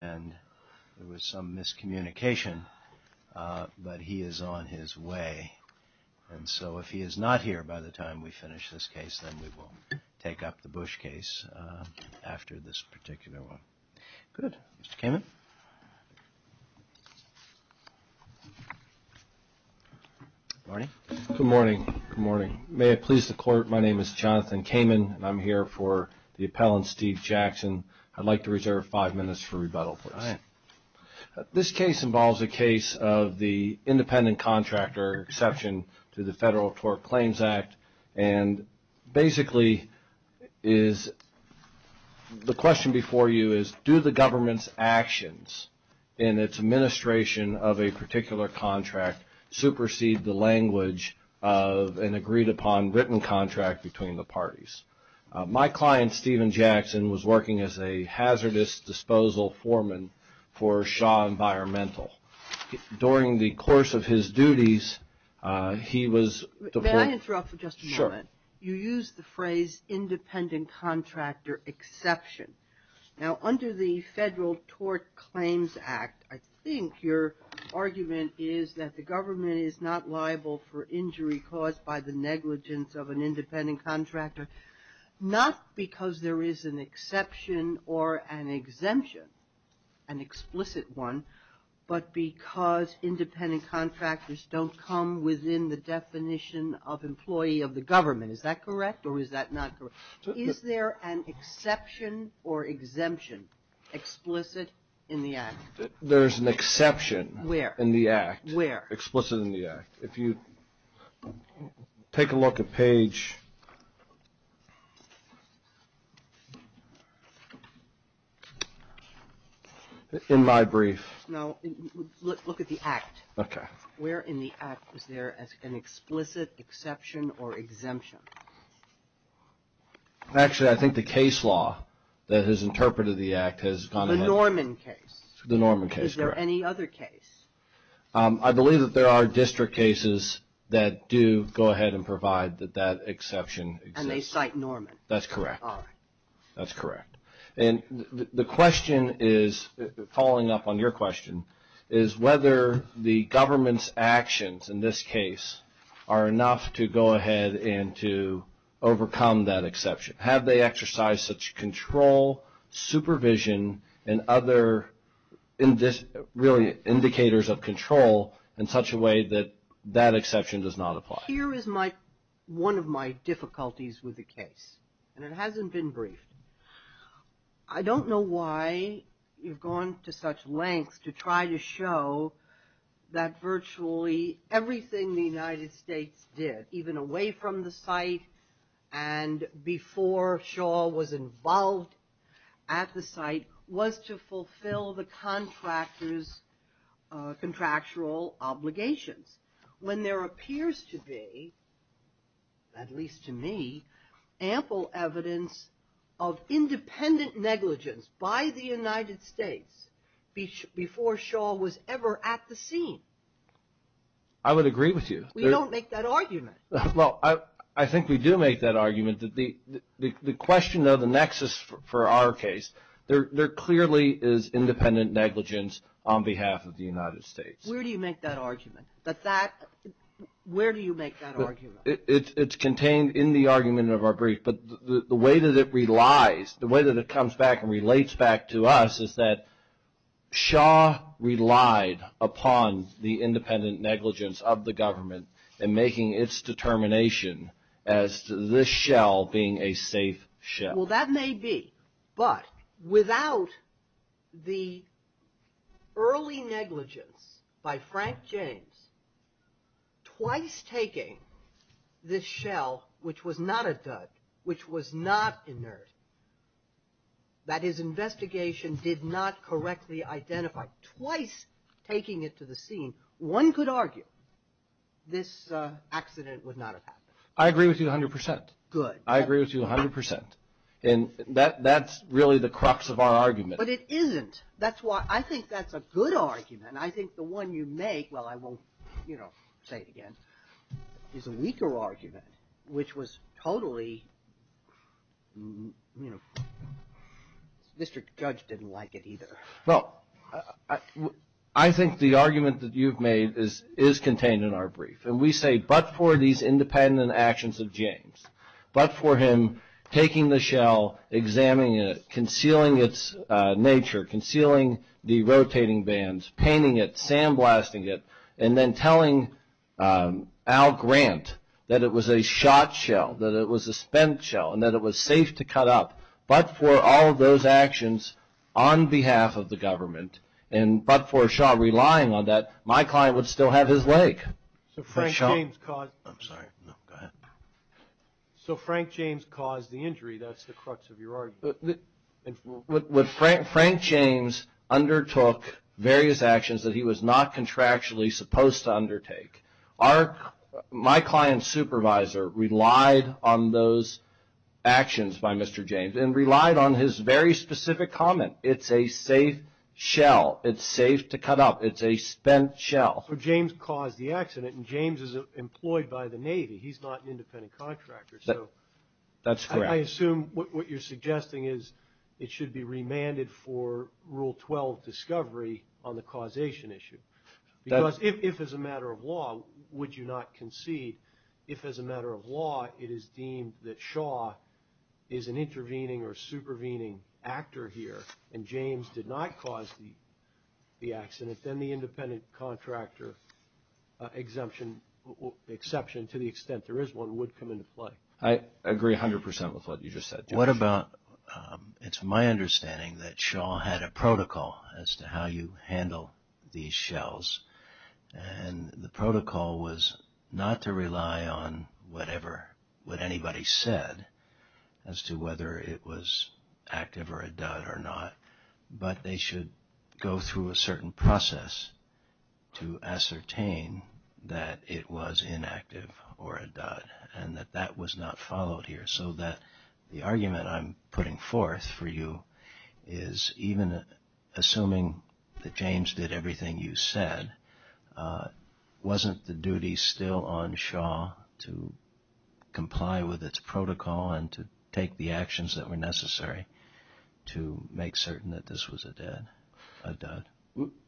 and there was some miscommunication, but he is on his way, and so if he is not here by the time we finish this case, then we will take up the Bush case after this particular one. Good. Mr. Kamen? Good morning. Good morning. May it please the Court, my name is Jonathan Kamen, and I am here for the appellant Steve Jackson. I would like to reserve five minutes for rebuttal, please. All right. This case involves a case of the independent contractor exception to the Federal Tort Claims Act, and basically is the question before you is, do the government's actions in its administration of a particular contract supersede the language of an agreed upon written contract between the parties? My client, Steven Jackson, was working as a hazardous disposal foreman for Shaw Environmental. During the course of his duties, he was May I interrupt for just a moment? Sure. You used the phrase independent contractor exception. Now, under the Federal Tort Claims Act, I think your argument is that the government is not liable for injury caused by the Is that correct, or is that not correct? Is there an exception or exemption explicit in the Act? There's an exception in the Act. Where? Explicit in the Act. If you take a look at page, in my brief. No, look at the Act. Okay. Where in the Act is there an explicit exception or exemption? Actually, I think the case law that has interpreted the Act has gone ahead. The Norman case. The Norman case, correct. Is there any other case? I believe that there are district cases that do go ahead and provide that that exception exists. And they cite Norman. That's correct. All right. And the question is, following up on your question, is whether the government's actions in this case are enough to go ahead and to overcome that exception? Have they exercised such control, supervision, and other really indicators of control in such a way that that exception does not apply? Here is one of my difficulties with the case, and it hasn't been briefed. I don't know why you've gone to such lengths to try to show that virtually everything the United States did, even away from the site and before Shaw was involved at the site, was to fulfill the contractors' contractual obligations. When there appears to be, at least to me, ample evidence of independent negligence by the United States before Shaw was ever at the scene. I would agree with you. We don't make that argument. Well, I think we do make that argument. The question of the nexus for our case, there clearly is independent negligence on behalf of the United States. Where do you make that argument? Where do you make that argument? It's contained in the argument of our brief, but the way that it relies, the way that it comes back and relates back to us, is that Shaw relied upon the independent negligence of the government in making its determination as to this shell being a safe shell. Well, that may be, but without the early negligence by Frank James, twice taking this shell, which was not a dud, which was not inert, that his investigation did not correctly identify, twice taking it to the scene, one could argue this accident would not have happened. I agree with you 100%. Good. And that's really the crux of our argument. But it isn't. That's why I think that's a good argument. I think the one you make, well, I won't, you know, say it again, is a weaker argument, which was totally, you know, Mr. Judge didn't like it either. Well, I think the argument that you've made is contained in our brief. And we say, but for these independent actions of James, but for him taking the shell, examining it, concealing its nature, concealing the rotating bands, painting it, sandblasting it, and then telling Al Grant that it was a shot shell, that it was a spent shell, and that it was safe to cut up, but for all of those actions on behalf of the government, and but for Shaw relying on that, my client would still have his leg. So Frank James caused the injury. That's the crux of your argument. Frank James undertook various actions that he was not contractually supposed to undertake. My client's supervisor relied on those actions by Mr. James and relied on his very specific comment. It's a safe shell. It's safe to cut up. It's a spent shell. But James caused the accident, and James is employed by the Navy. He's not an independent contractor. That's correct. I assume what you're suggesting is it should be remanded for Rule 12 discovery on the causation issue. Because if, as a matter of law, would you not concede, if, as a matter of law, it is deemed that Shaw is an intervening or supervening actor here and James did not cause the accident, then the independent contractor exemption, exception to the extent there is one, would come into play. I agree 100% with what you just said, Jeff. What about, it's my understanding that Shaw had a protocol as to how you handle these shells, and the protocol was not to rely on whatever, what anybody said as to whether it was active or a dud or not, but they should go through a certain process to ascertain that it was inactive or a dud, and that that was not followed here, so that the argument I'm putting forth for you is, even assuming that James did everything you said, wasn't the duty still on Shaw to comply with its protocol and to take the actions that were necessary to make certain that this was a dud?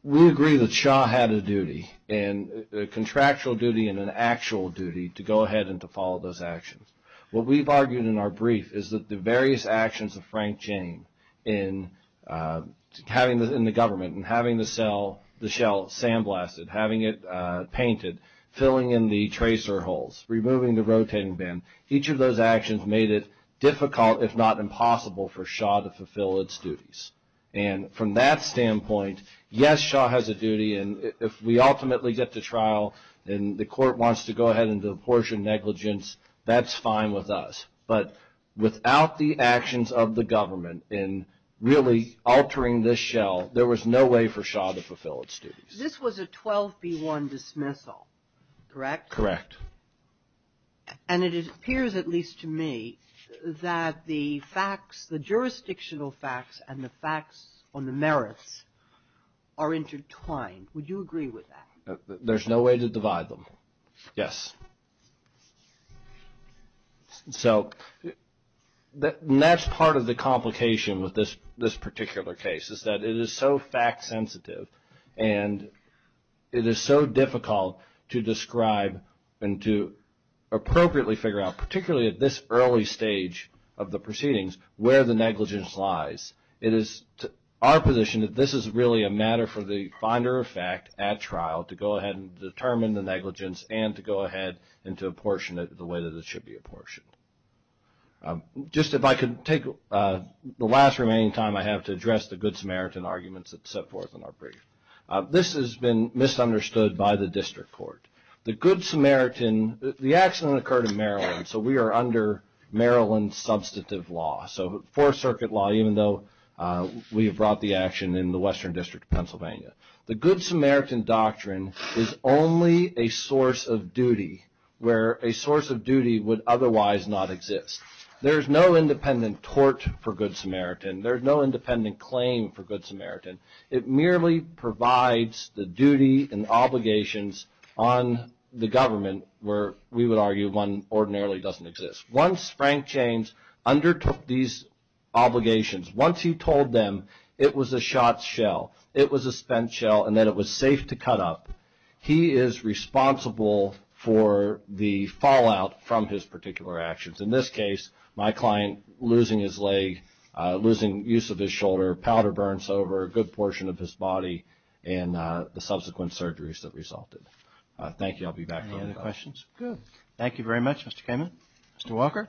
We agree that Shaw had a duty, a contractual duty and an actual duty to go ahead and to follow those actions. What we've argued in our brief is that the various actions of Frank Jane in having this in the government and having the shell sandblasted, having it painted, filling in the tracer holes, removing the rotating bin, each of those actions made it difficult, if not impossible, for Shaw to fulfill its duties. And from that standpoint, yes, Shaw has a duty, and if we ultimately get to trial and the court wants to go ahead and do apportioned negligence, that's fine with us. But without the actions of the government in really altering this shell, there was no way for Shaw to fulfill its duties. This was a 12B1 dismissal, correct? Correct. And it appears, at least to me, that the facts, the jurisdictional facts and the facts on the merits are intertwined. Would you agree with that? There's no way to divide them. Yes. So that's part of the complication with this particular case is that it is so fact sensitive and it is so difficult to describe and to appropriately figure out, particularly at this early stage of the proceedings, where the negligence lies. It is our position that this is really a matter for the finder of fact at trial to go ahead and determine the negligence and to go ahead and to apportion it the way that it should be apportioned. Just if I could take the last remaining time I have to address the Good Samaritan arguments that set forth in our brief. This has been misunderstood by the district court. The Good Samaritan, the accident occurred in Maryland, so we are under Maryland's substantive law, so Fourth Circuit law, even though we have brought the action in the Western District of Pennsylvania. The Good Samaritan doctrine is only a source of duty where a source of duty would otherwise not exist. There's no independent tort for Good Samaritan. There's no independent claim for Good Samaritan. It merely provides the duty and obligations on the government where we would argue one ordinarily doesn't exist. Once Frank James undertook these obligations, once he told them it was a shot shell, it was a spent shell and that it was safe to cut up, he is responsible for the fallout from his particular actions. In this case, my client losing his leg, losing use of his shoulder, powder burns over a good portion of his body and the subsequent surgeries that resulted. Thank you. I'll be back. Any other questions? Good. Thank you very much, Mr. Kamen. Mr. Walker?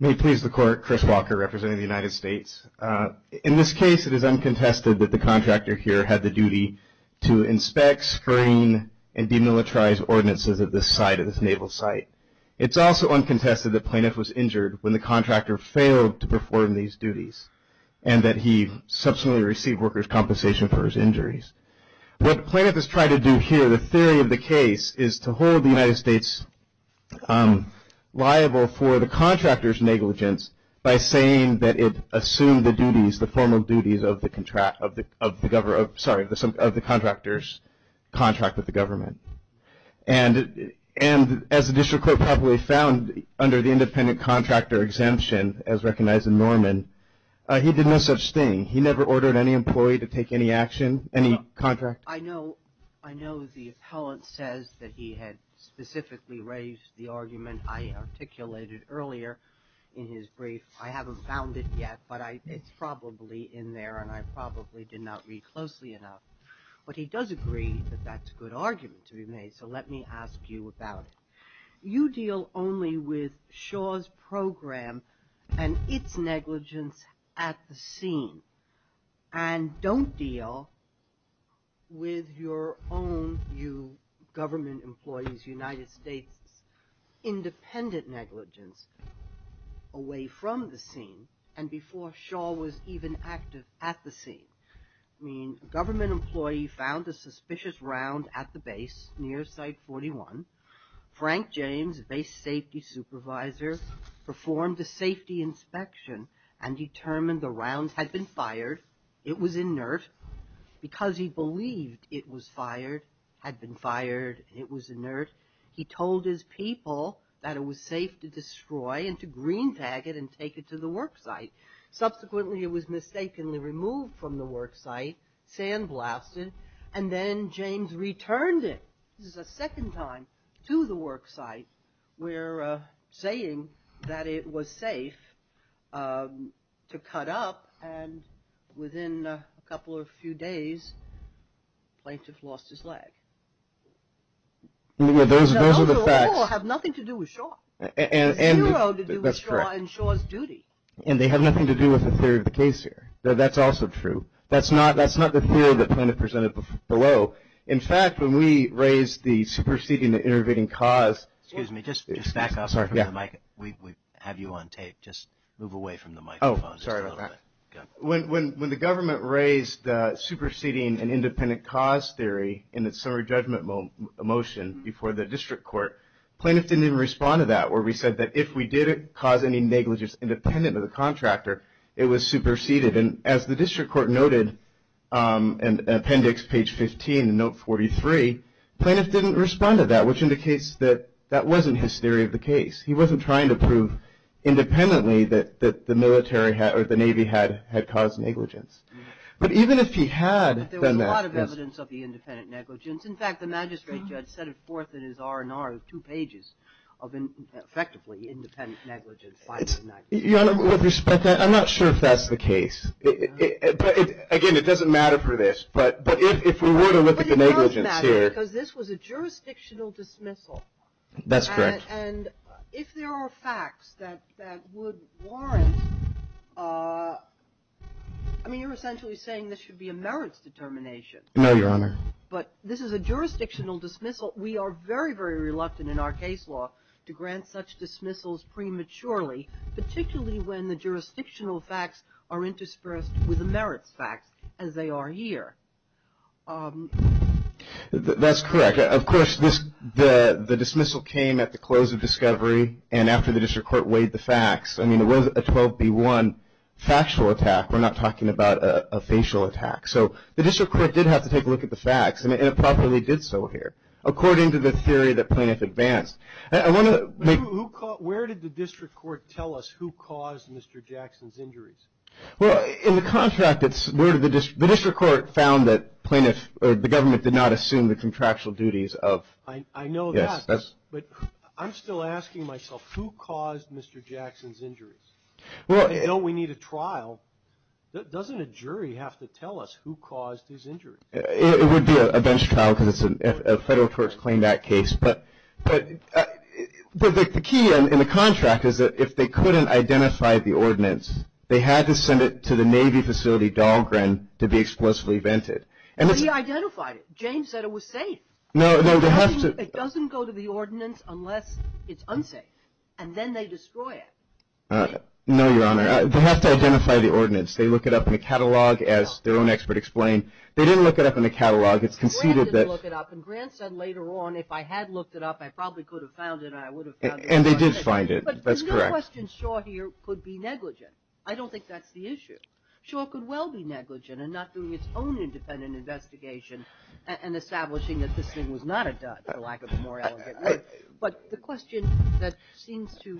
May it please the Court, Chris Walker representing the United States. In this case, it is uncontested that the contractor here had the duty to inspect, screen, and demilitarize ordinances at this site, at this naval site. It's also uncontested that plaintiff was injured when the contractor failed to perform these duties and that he subsequently received workers' compensation for his injuries. What plaintiff has tried to do here, the theory of the case, is to hold the United States liable for the contractor's negligence by saying that it assumed the duties, the formal duties of the contractor's contract with the government. And as the district court probably found under the independent contractor exemption, as recognized in Norman, he did no such thing. He never ordered any employee to take any action, any contract. I know the appellant says that he had specifically raised the argument I articulated earlier in his brief. I haven't found it yet, but it's probably in there and I probably did not read closely enough. But he does agree that that's a good argument to be made, so let me ask you about it. You deal only with Shaw's program and its negligence at the scene and don't deal with your own, you government employees, United States' independent negligence away from the scene and before Shaw was even active at the scene. A government employee found a suspicious round at the base near Site 41. Frank James, a base safety supervisor, performed a safety inspection and determined the round had been fired. It was inert because he believed it was fired, had been fired, it was inert. He told his people that it was safe to destroy and to green tag it and take it to the work site. Subsequently, it was mistakenly removed from the work site, sandblasted, and then James returned it. This is the second time to the work site we're saying that it was safe to cut up and within a couple of few days, the plaintiff lost his leg. Those are the facts. They all have nothing to do with Shaw. There's zero to do with Shaw and Shaw's duty. And they have nothing to do with the theory of the case here. That's also true. That's not the theory the plaintiff presented below. In fact, when we raised the superseding the intervening cause. Excuse me. Just back up. I'm sorry. We have you on tape. Just move away from the microphone just a little bit. Oh, sorry about that. Go ahead. When the government raised superseding an independent cause theory in its summary judgment motion before the district court, plaintiff didn't even respond to that where we said that if we did cause any negligence independent of the contractor, it was superseded. And as the district court noted in appendix page 15 in note 43, plaintiff didn't respond to that, which indicates that that wasn't his theory of the case. He wasn't trying to prove independently that the Navy had caused negligence. But even if he had done that. There was a lot of evidence of the independent negligence. In fact, the magistrate judge set it forth in his R&R of two pages of effectively independent negligence. Your Honor, with respect, I'm not sure if that's the case. But, again, it doesn't matter for this. But if we were to look at the negligence here. But it does matter because this was a jurisdictional dismissal. That's correct. And if there are facts that would warrant, I mean, you're essentially saying this should be a merits determination. No, Your Honor. But this is a jurisdictional dismissal. We are very, very reluctant in our case law to grant such dismissals prematurely, particularly when the jurisdictional facts are interspersed with the merits facts as they are here. That's correct. Of course, the dismissal came at the close of discovery and after the district court weighed the facts. I mean, it was a 12B1 factual attack. We're not talking about a facial attack. So the district court did have to take a look at the facts. And it probably did so here, according to the theory that Plaintiff advanced. Where did the district court tell us who caused Mr. Jackson's injuries? Well, in the contract, the district court found that the government did not assume the contractual duties of. I know that. But I'm still asking myself, who caused Mr. Jackson's injuries? Don't we need a trial? Doesn't a jury have to tell us who caused his injuries? It would be a bench trial because it's a federal court's claim back case. But the key in the contract is that if they couldn't identify the ordinance, they had to send it to the Navy facility, Dahlgren, to be explosively vented. But he identified it. James said it was safe. No, they have to. It doesn't go to the ordinance unless it's unsafe. No, Your Honor. They have to identify the ordinance. They look it up in the catalog, as their own expert explained. They didn't look it up in the catalog. It's conceded that — Grant didn't look it up. And Grant said later on, if I had looked it up, I probably could have found it and I would have found it. And they did find it. That's correct. But the new question sure here could be negligent. I don't think that's the issue. Sure, it could well be negligent in not doing its own independent investigation and establishing that this thing was not a dud, for lack of a more elegant name. But the question that seems to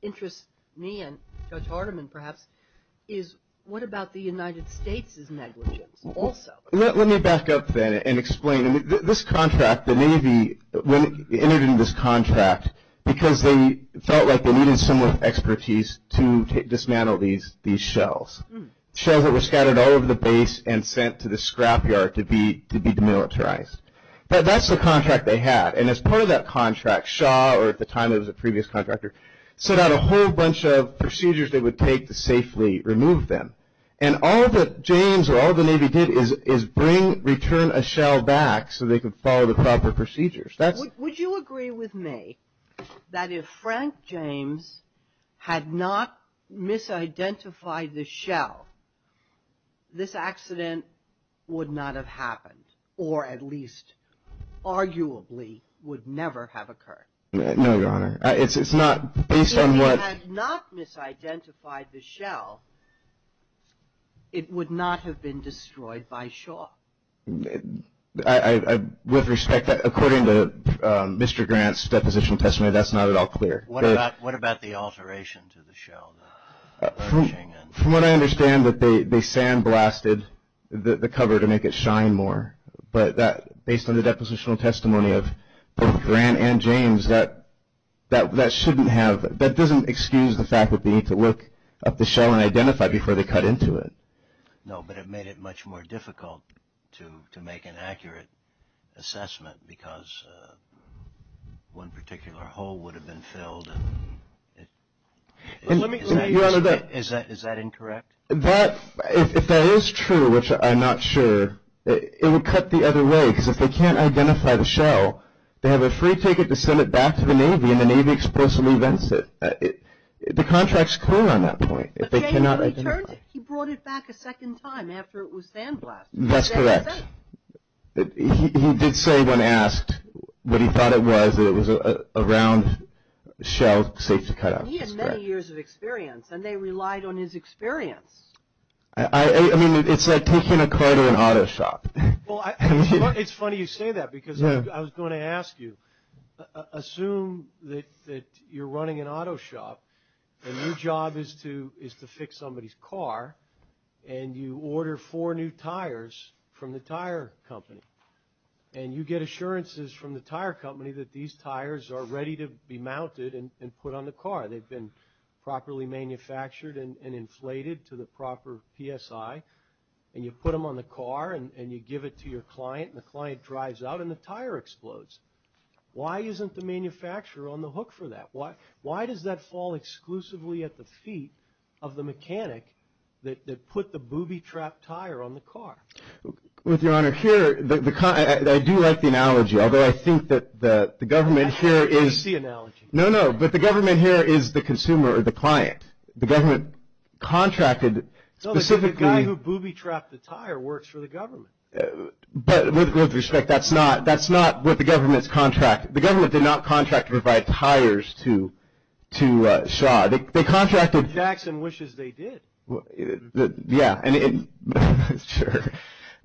interest me and Judge Hardiman, perhaps, is what about the United States' negligence also? Let me back up then and explain. This contract, the Navy entered into this contract because they felt like they needed someone with expertise to dismantle these shells. Shells that were scattered all over the base and sent to the scrapyard to be demilitarized. But that's the contract they had. And as part of that contract, Shaw, or at the time it was a previous contractor, set out a whole bunch of procedures they would take to safely remove them. And all that James or all the Navy did is bring, return a shell back so they could follow the proper procedures. Would you agree with me that if Frank James had not misidentified the shell, this accident would not have happened? Or at least, arguably, would never have occurred? No, Your Honor. It's not based on what... If he had not misidentified the shell, it would not have been destroyed by Shaw. With respect, according to Mr. Grant's deposition testimony, that's not at all clear. What about the alteration to the shell? From what I understand, they sandblasted the cover to make it shine more. But based on the depositional testimony of both Grant and James, that doesn't excuse the fact that they need to look up the shell and identify it before they cut into it. No, but it made it much more difficult to make an accurate assessment because one particular hole would have been filled. Is that incorrect? If that is true, which I'm not sure, it would cut the other way because if they can't identify the shell, they have a free ticket to send it back to the Navy and the Navy explicitly vets it. The contract's clear on that point. But James, when he turned, he brought it back a second time after it was sandblasted. That's correct. He did say when asked what he thought it was that it was a round shell safe to cut out. He had many years of experience, and they relied on his experience. I mean, it's like taking a car to an auto shop. It's funny you say that because I was going to ask you, assume that you're running an auto shop and your job is to fix somebody's car and you order four new tires from the tire company and you get assurances from the tire company that these tires are ready to be mounted and put on the car. They've been properly manufactured and inflated to the proper PSI, and you put them on the car and you give it to your client, and the client drives out and the tire explodes. Why isn't the manufacturer on the hook for that? Why does that fall exclusively at the feet of the mechanic that put the booby-trapped tire on the car? Well, Your Honor, here, I do like the analogy, although I think that the government here is… That's a crazy analogy. No, no. But the government here is the consumer or the client. The government contracted specifically… No, the guy who booby-trapped the tire works for the government. But with respect, that's not what the government's contract. The government did not contract to provide tires to Shaw. They contracted… Jackson wishes they did. Yeah, sure.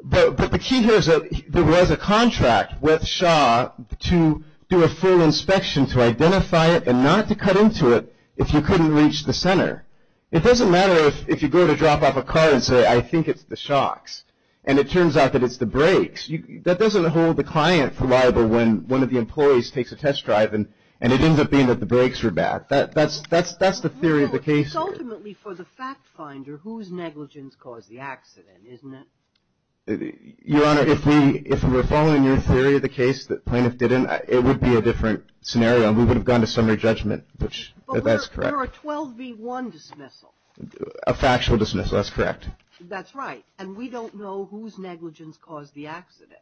But the key here is that there was a contract with Shaw to do a full inspection to identify it and not to cut into it if you couldn't reach the center. It doesn't matter if you go to drop off a car and say, I think it's the shocks, and it turns out that it's the brakes. That doesn't hold the client reliable when one of the employees takes a test drive and it ends up being that the brakes are bad. That's the theory of the case here. Well, it's ultimately for the fact finder whose negligence caused the accident, isn't it? Your Honor, if we were following your theory of the case, the plaintiff didn't, it would be a different scenario and we would have gone to summary judgment, which that's correct. But we're a 12 v. 1 dismissal. A factual dismissal, that's correct. That's right. And we don't know whose negligence caused the accident.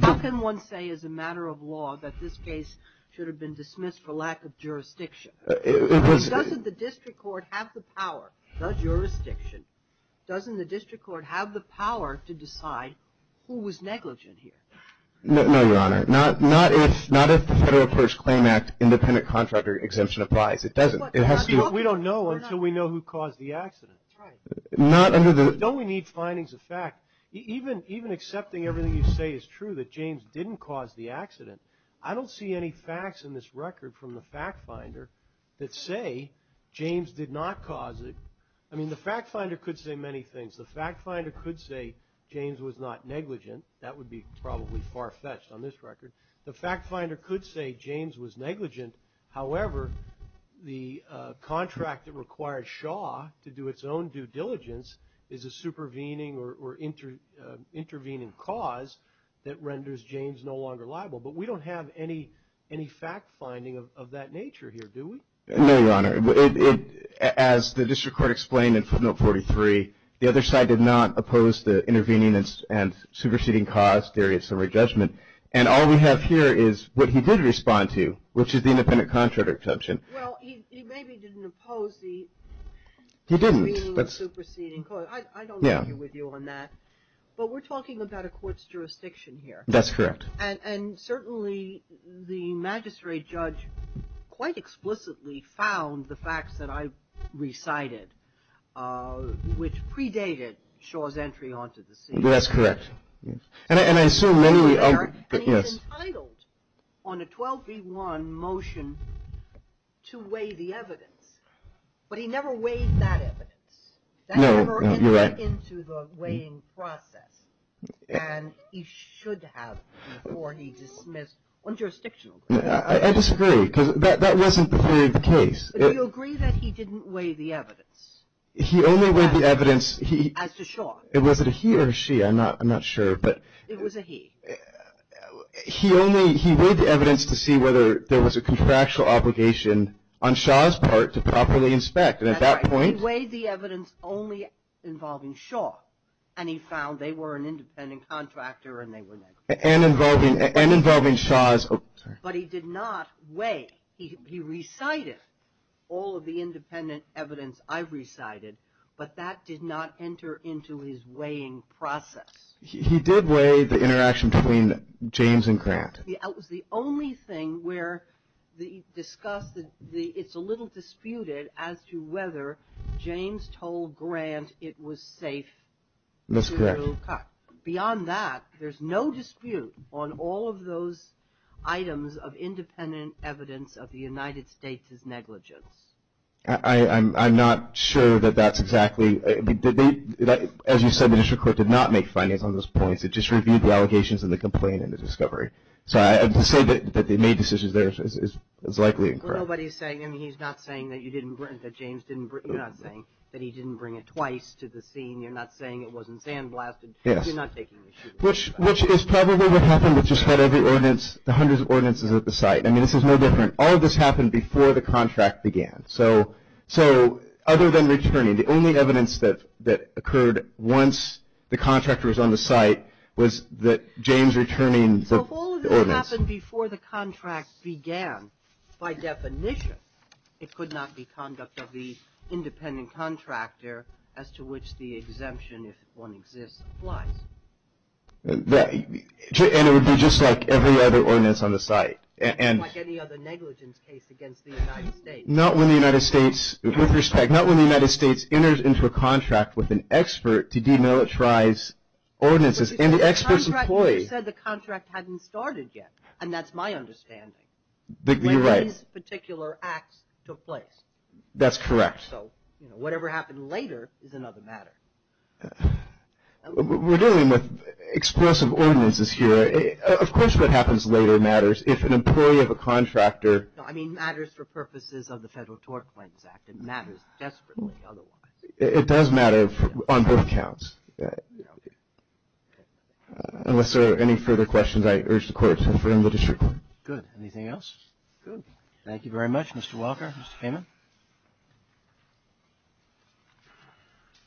How can one say as a matter of law that this case should have been dismissed for lack of jurisdiction? Doesn't the district court have the power, not jurisdiction, doesn't the district court have the power to decide who was negligent here? No, Your Honor. Not if the Federal Purge Claim Act independent contractor exemption applies. It doesn't. We don't know until we know who caused the accident. Don't we need findings of fact? Even accepting everything you say is true, that James didn't cause the accident, I don't see any facts in this record from the fact finder that say James did not cause it. I mean, the fact finder could say many things. The fact finder could say James was not negligent. That would be probably far-fetched on this record. The fact finder could say James was negligent. However, the contract that requires Shaw to do its own due diligence is a supervening or intervening cause that renders James no longer liable. But we don't have any fact finding of that nature here, do we? No, Your Honor. As the district court explained in footnote 43, the other side did not oppose the intervening and superseding cause theory of summary judgment. And all we have here is what he did respond to, which is the independent contract exception. Well, he maybe didn't oppose the intervening and superseding cause. I don't agree with you on that. But we're talking about a court's jurisdiction here. That's correct. And certainly the magistrate judge quite explicitly found the facts that I recited, which predated Shaw's entry onto the scene. That's correct. And he was entitled on a 12B1 motion to weigh the evidence. But he never weighed that evidence. No, you're right. That never entered into the weighing process. And he should have before he dismissed one jurisdiction. I disagree because that wasn't the theory of the case. But do you agree that he didn't weigh the evidence? He only weighed the evidence. As to Shaw. Was it a he or a she? I'm not sure. It was a he. He weighed the evidence to see whether there was a contractual obligation on Shaw's part to properly inspect. And at that point. He weighed the evidence only involving Shaw. And he found they were an independent contractor and they were negligent. And involving Shaw's. But he did not weigh. He recited all of the independent evidence I recited. But that did not enter into his weighing process. He did weigh the interaction between James and Grant. It was the only thing where it's a little disputed as to whether James told Grant it was safe. That's correct. Beyond that, there's no dispute on all of those items of independent evidence of the United States' negligence. I'm not sure that that's exactly. As you said, the district court did not make finance on those points. It just reviewed the allegations and the complaint and the discovery. So to say that they made decisions there is likely incorrect. Nobody is saying. I mean, he's not saying that you didn't bring it. That James didn't bring it. You're not saying that he didn't bring it twice to the scene. You're not saying it wasn't sandblasted. Yes. You're not taking issue with that. Which is probably what happened with just about every ordinance. The hundreds of ordinances at the site. I mean, this is no different. All of this happened before the contract began. So other than returning, the only evidence that occurred once the contract was on the site was that James returning the ordinance. So all of this happened before the contract began. By definition, it could not be conduct of the independent contractor as to which the exemption, if one exists, applies. And it would be just like every other ordinance on the site. Right. Unlike any other negligence case against the United States. Not when the United States, with respect, not when the United States enters into a contract with an expert to demilitarize ordinances. But you said the contract hadn't started yet. And that's my understanding. You're right. When these particular acts took place. That's correct. So, you know, whatever happened later is another matter. We're dealing with explosive ordinances here. Of course what happens later matters. If an employee of a contractor. No, I mean, matters for purposes of the Federal Tort Claims Act. It matters desperately otherwise. It does matter on both counts. Unless there are any further questions, I urge the Court to affirm the district court. Good. Anything else? Good. Thank you very much, Mr. Walker. Mr. Kamen.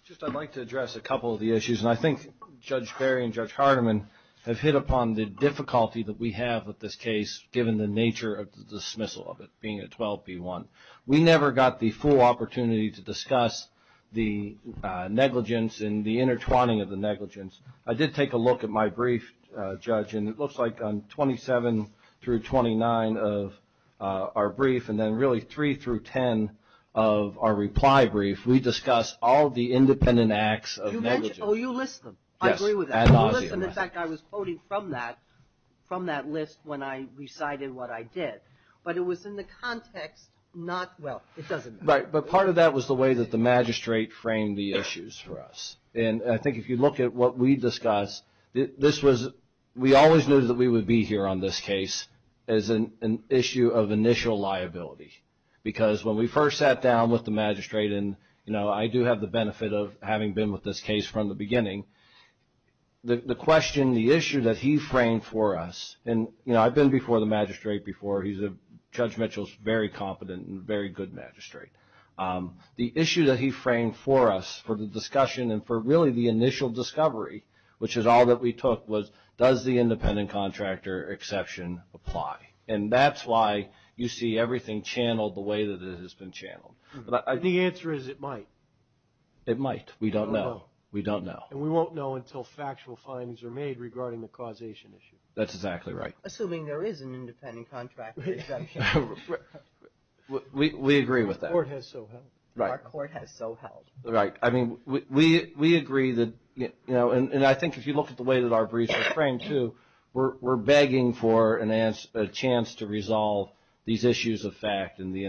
Just I'd like to address a couple of the issues. And I think Judge Berry and Judge Hardiman have hit upon the difficulty that we have with this case given the nature of the dismissal of it. Being a 12B1. We never got the full opportunity to discuss the negligence and the intertwining of the negligence. It looks like on 27 through 29 of our brief, and then really 3 through 10 of our reply brief, we discussed all the independent acts of negligence. Oh, you list them. I agree with that. You list them. In fact, I was quoting from that list when I recited what I did. But it was in the context not, well, it doesn't matter. Right. But part of that was the way that the magistrate framed the issues for us. And I think if you look at what we discussed, this was, we always knew that we would be here on this case as an issue of initial liability. Because when we first sat down with the magistrate, and, you know, I do have the benefit of having been with this case from the beginning. The question, the issue that he framed for us, and, you know, I've been before the magistrate before. He's a, Judge Mitchell's a very competent and very good magistrate. The issue that he framed for us for the discussion and for really the initial discovery, which is all that we took was, does the independent contractor exception apply? And that's why you see everything channeled the way that it has been channeled. The answer is it might. It might. We don't know. We don't know. And we won't know until factual findings are made regarding the causation issue. That's exactly right. Assuming there is an independent contractor exception. We agree with that. Our court has so held. Right. Our court has so held. Right. I mean, we agree that, you know, and I think if you look at the way that our briefs were framed, too, we're begging for a chance to resolve these issues of fact and the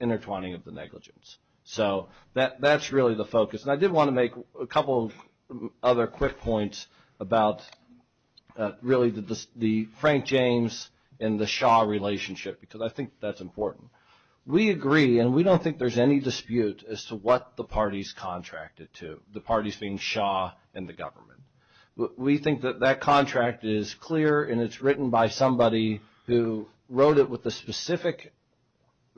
intertwining of the negligence. So that's really the focus. And I did want to make a couple of other quick points about really the Frank James and the Shaw relationship, because I think that's important. We agree, and we don't think there's any dispute as to what the party's contracted to, the parties being Shaw and the government. We think that that contract is clear and it's written by somebody who wrote it with a specific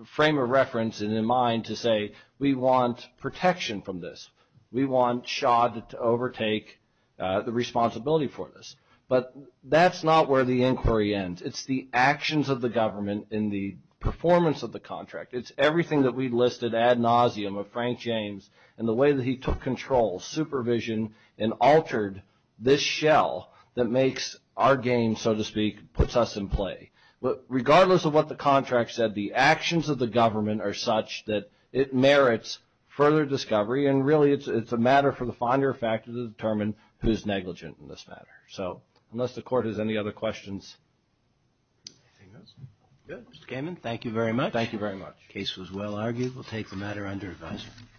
frame of reference in mind to say we want protection from this. We want Shaw to overtake the responsibility for this. But that's not where the inquiry ends. It's the actions of the government in the performance of the contract. It's everything that we listed ad nauseum of Frank James and the way that he took control, supervision, and altered this shell that makes our game, so to speak, puts us in play. Regardless of what the contract said, the actions of the government are such that it merits further discovery, and really it's a matter for the finder of fact to determine who's negligent in this matter. So unless the court has any other questions. Anything else? Good. Mr. Kamen, thank you very much. Thank you very much. Case was well argued. We'll take the matter under advisory.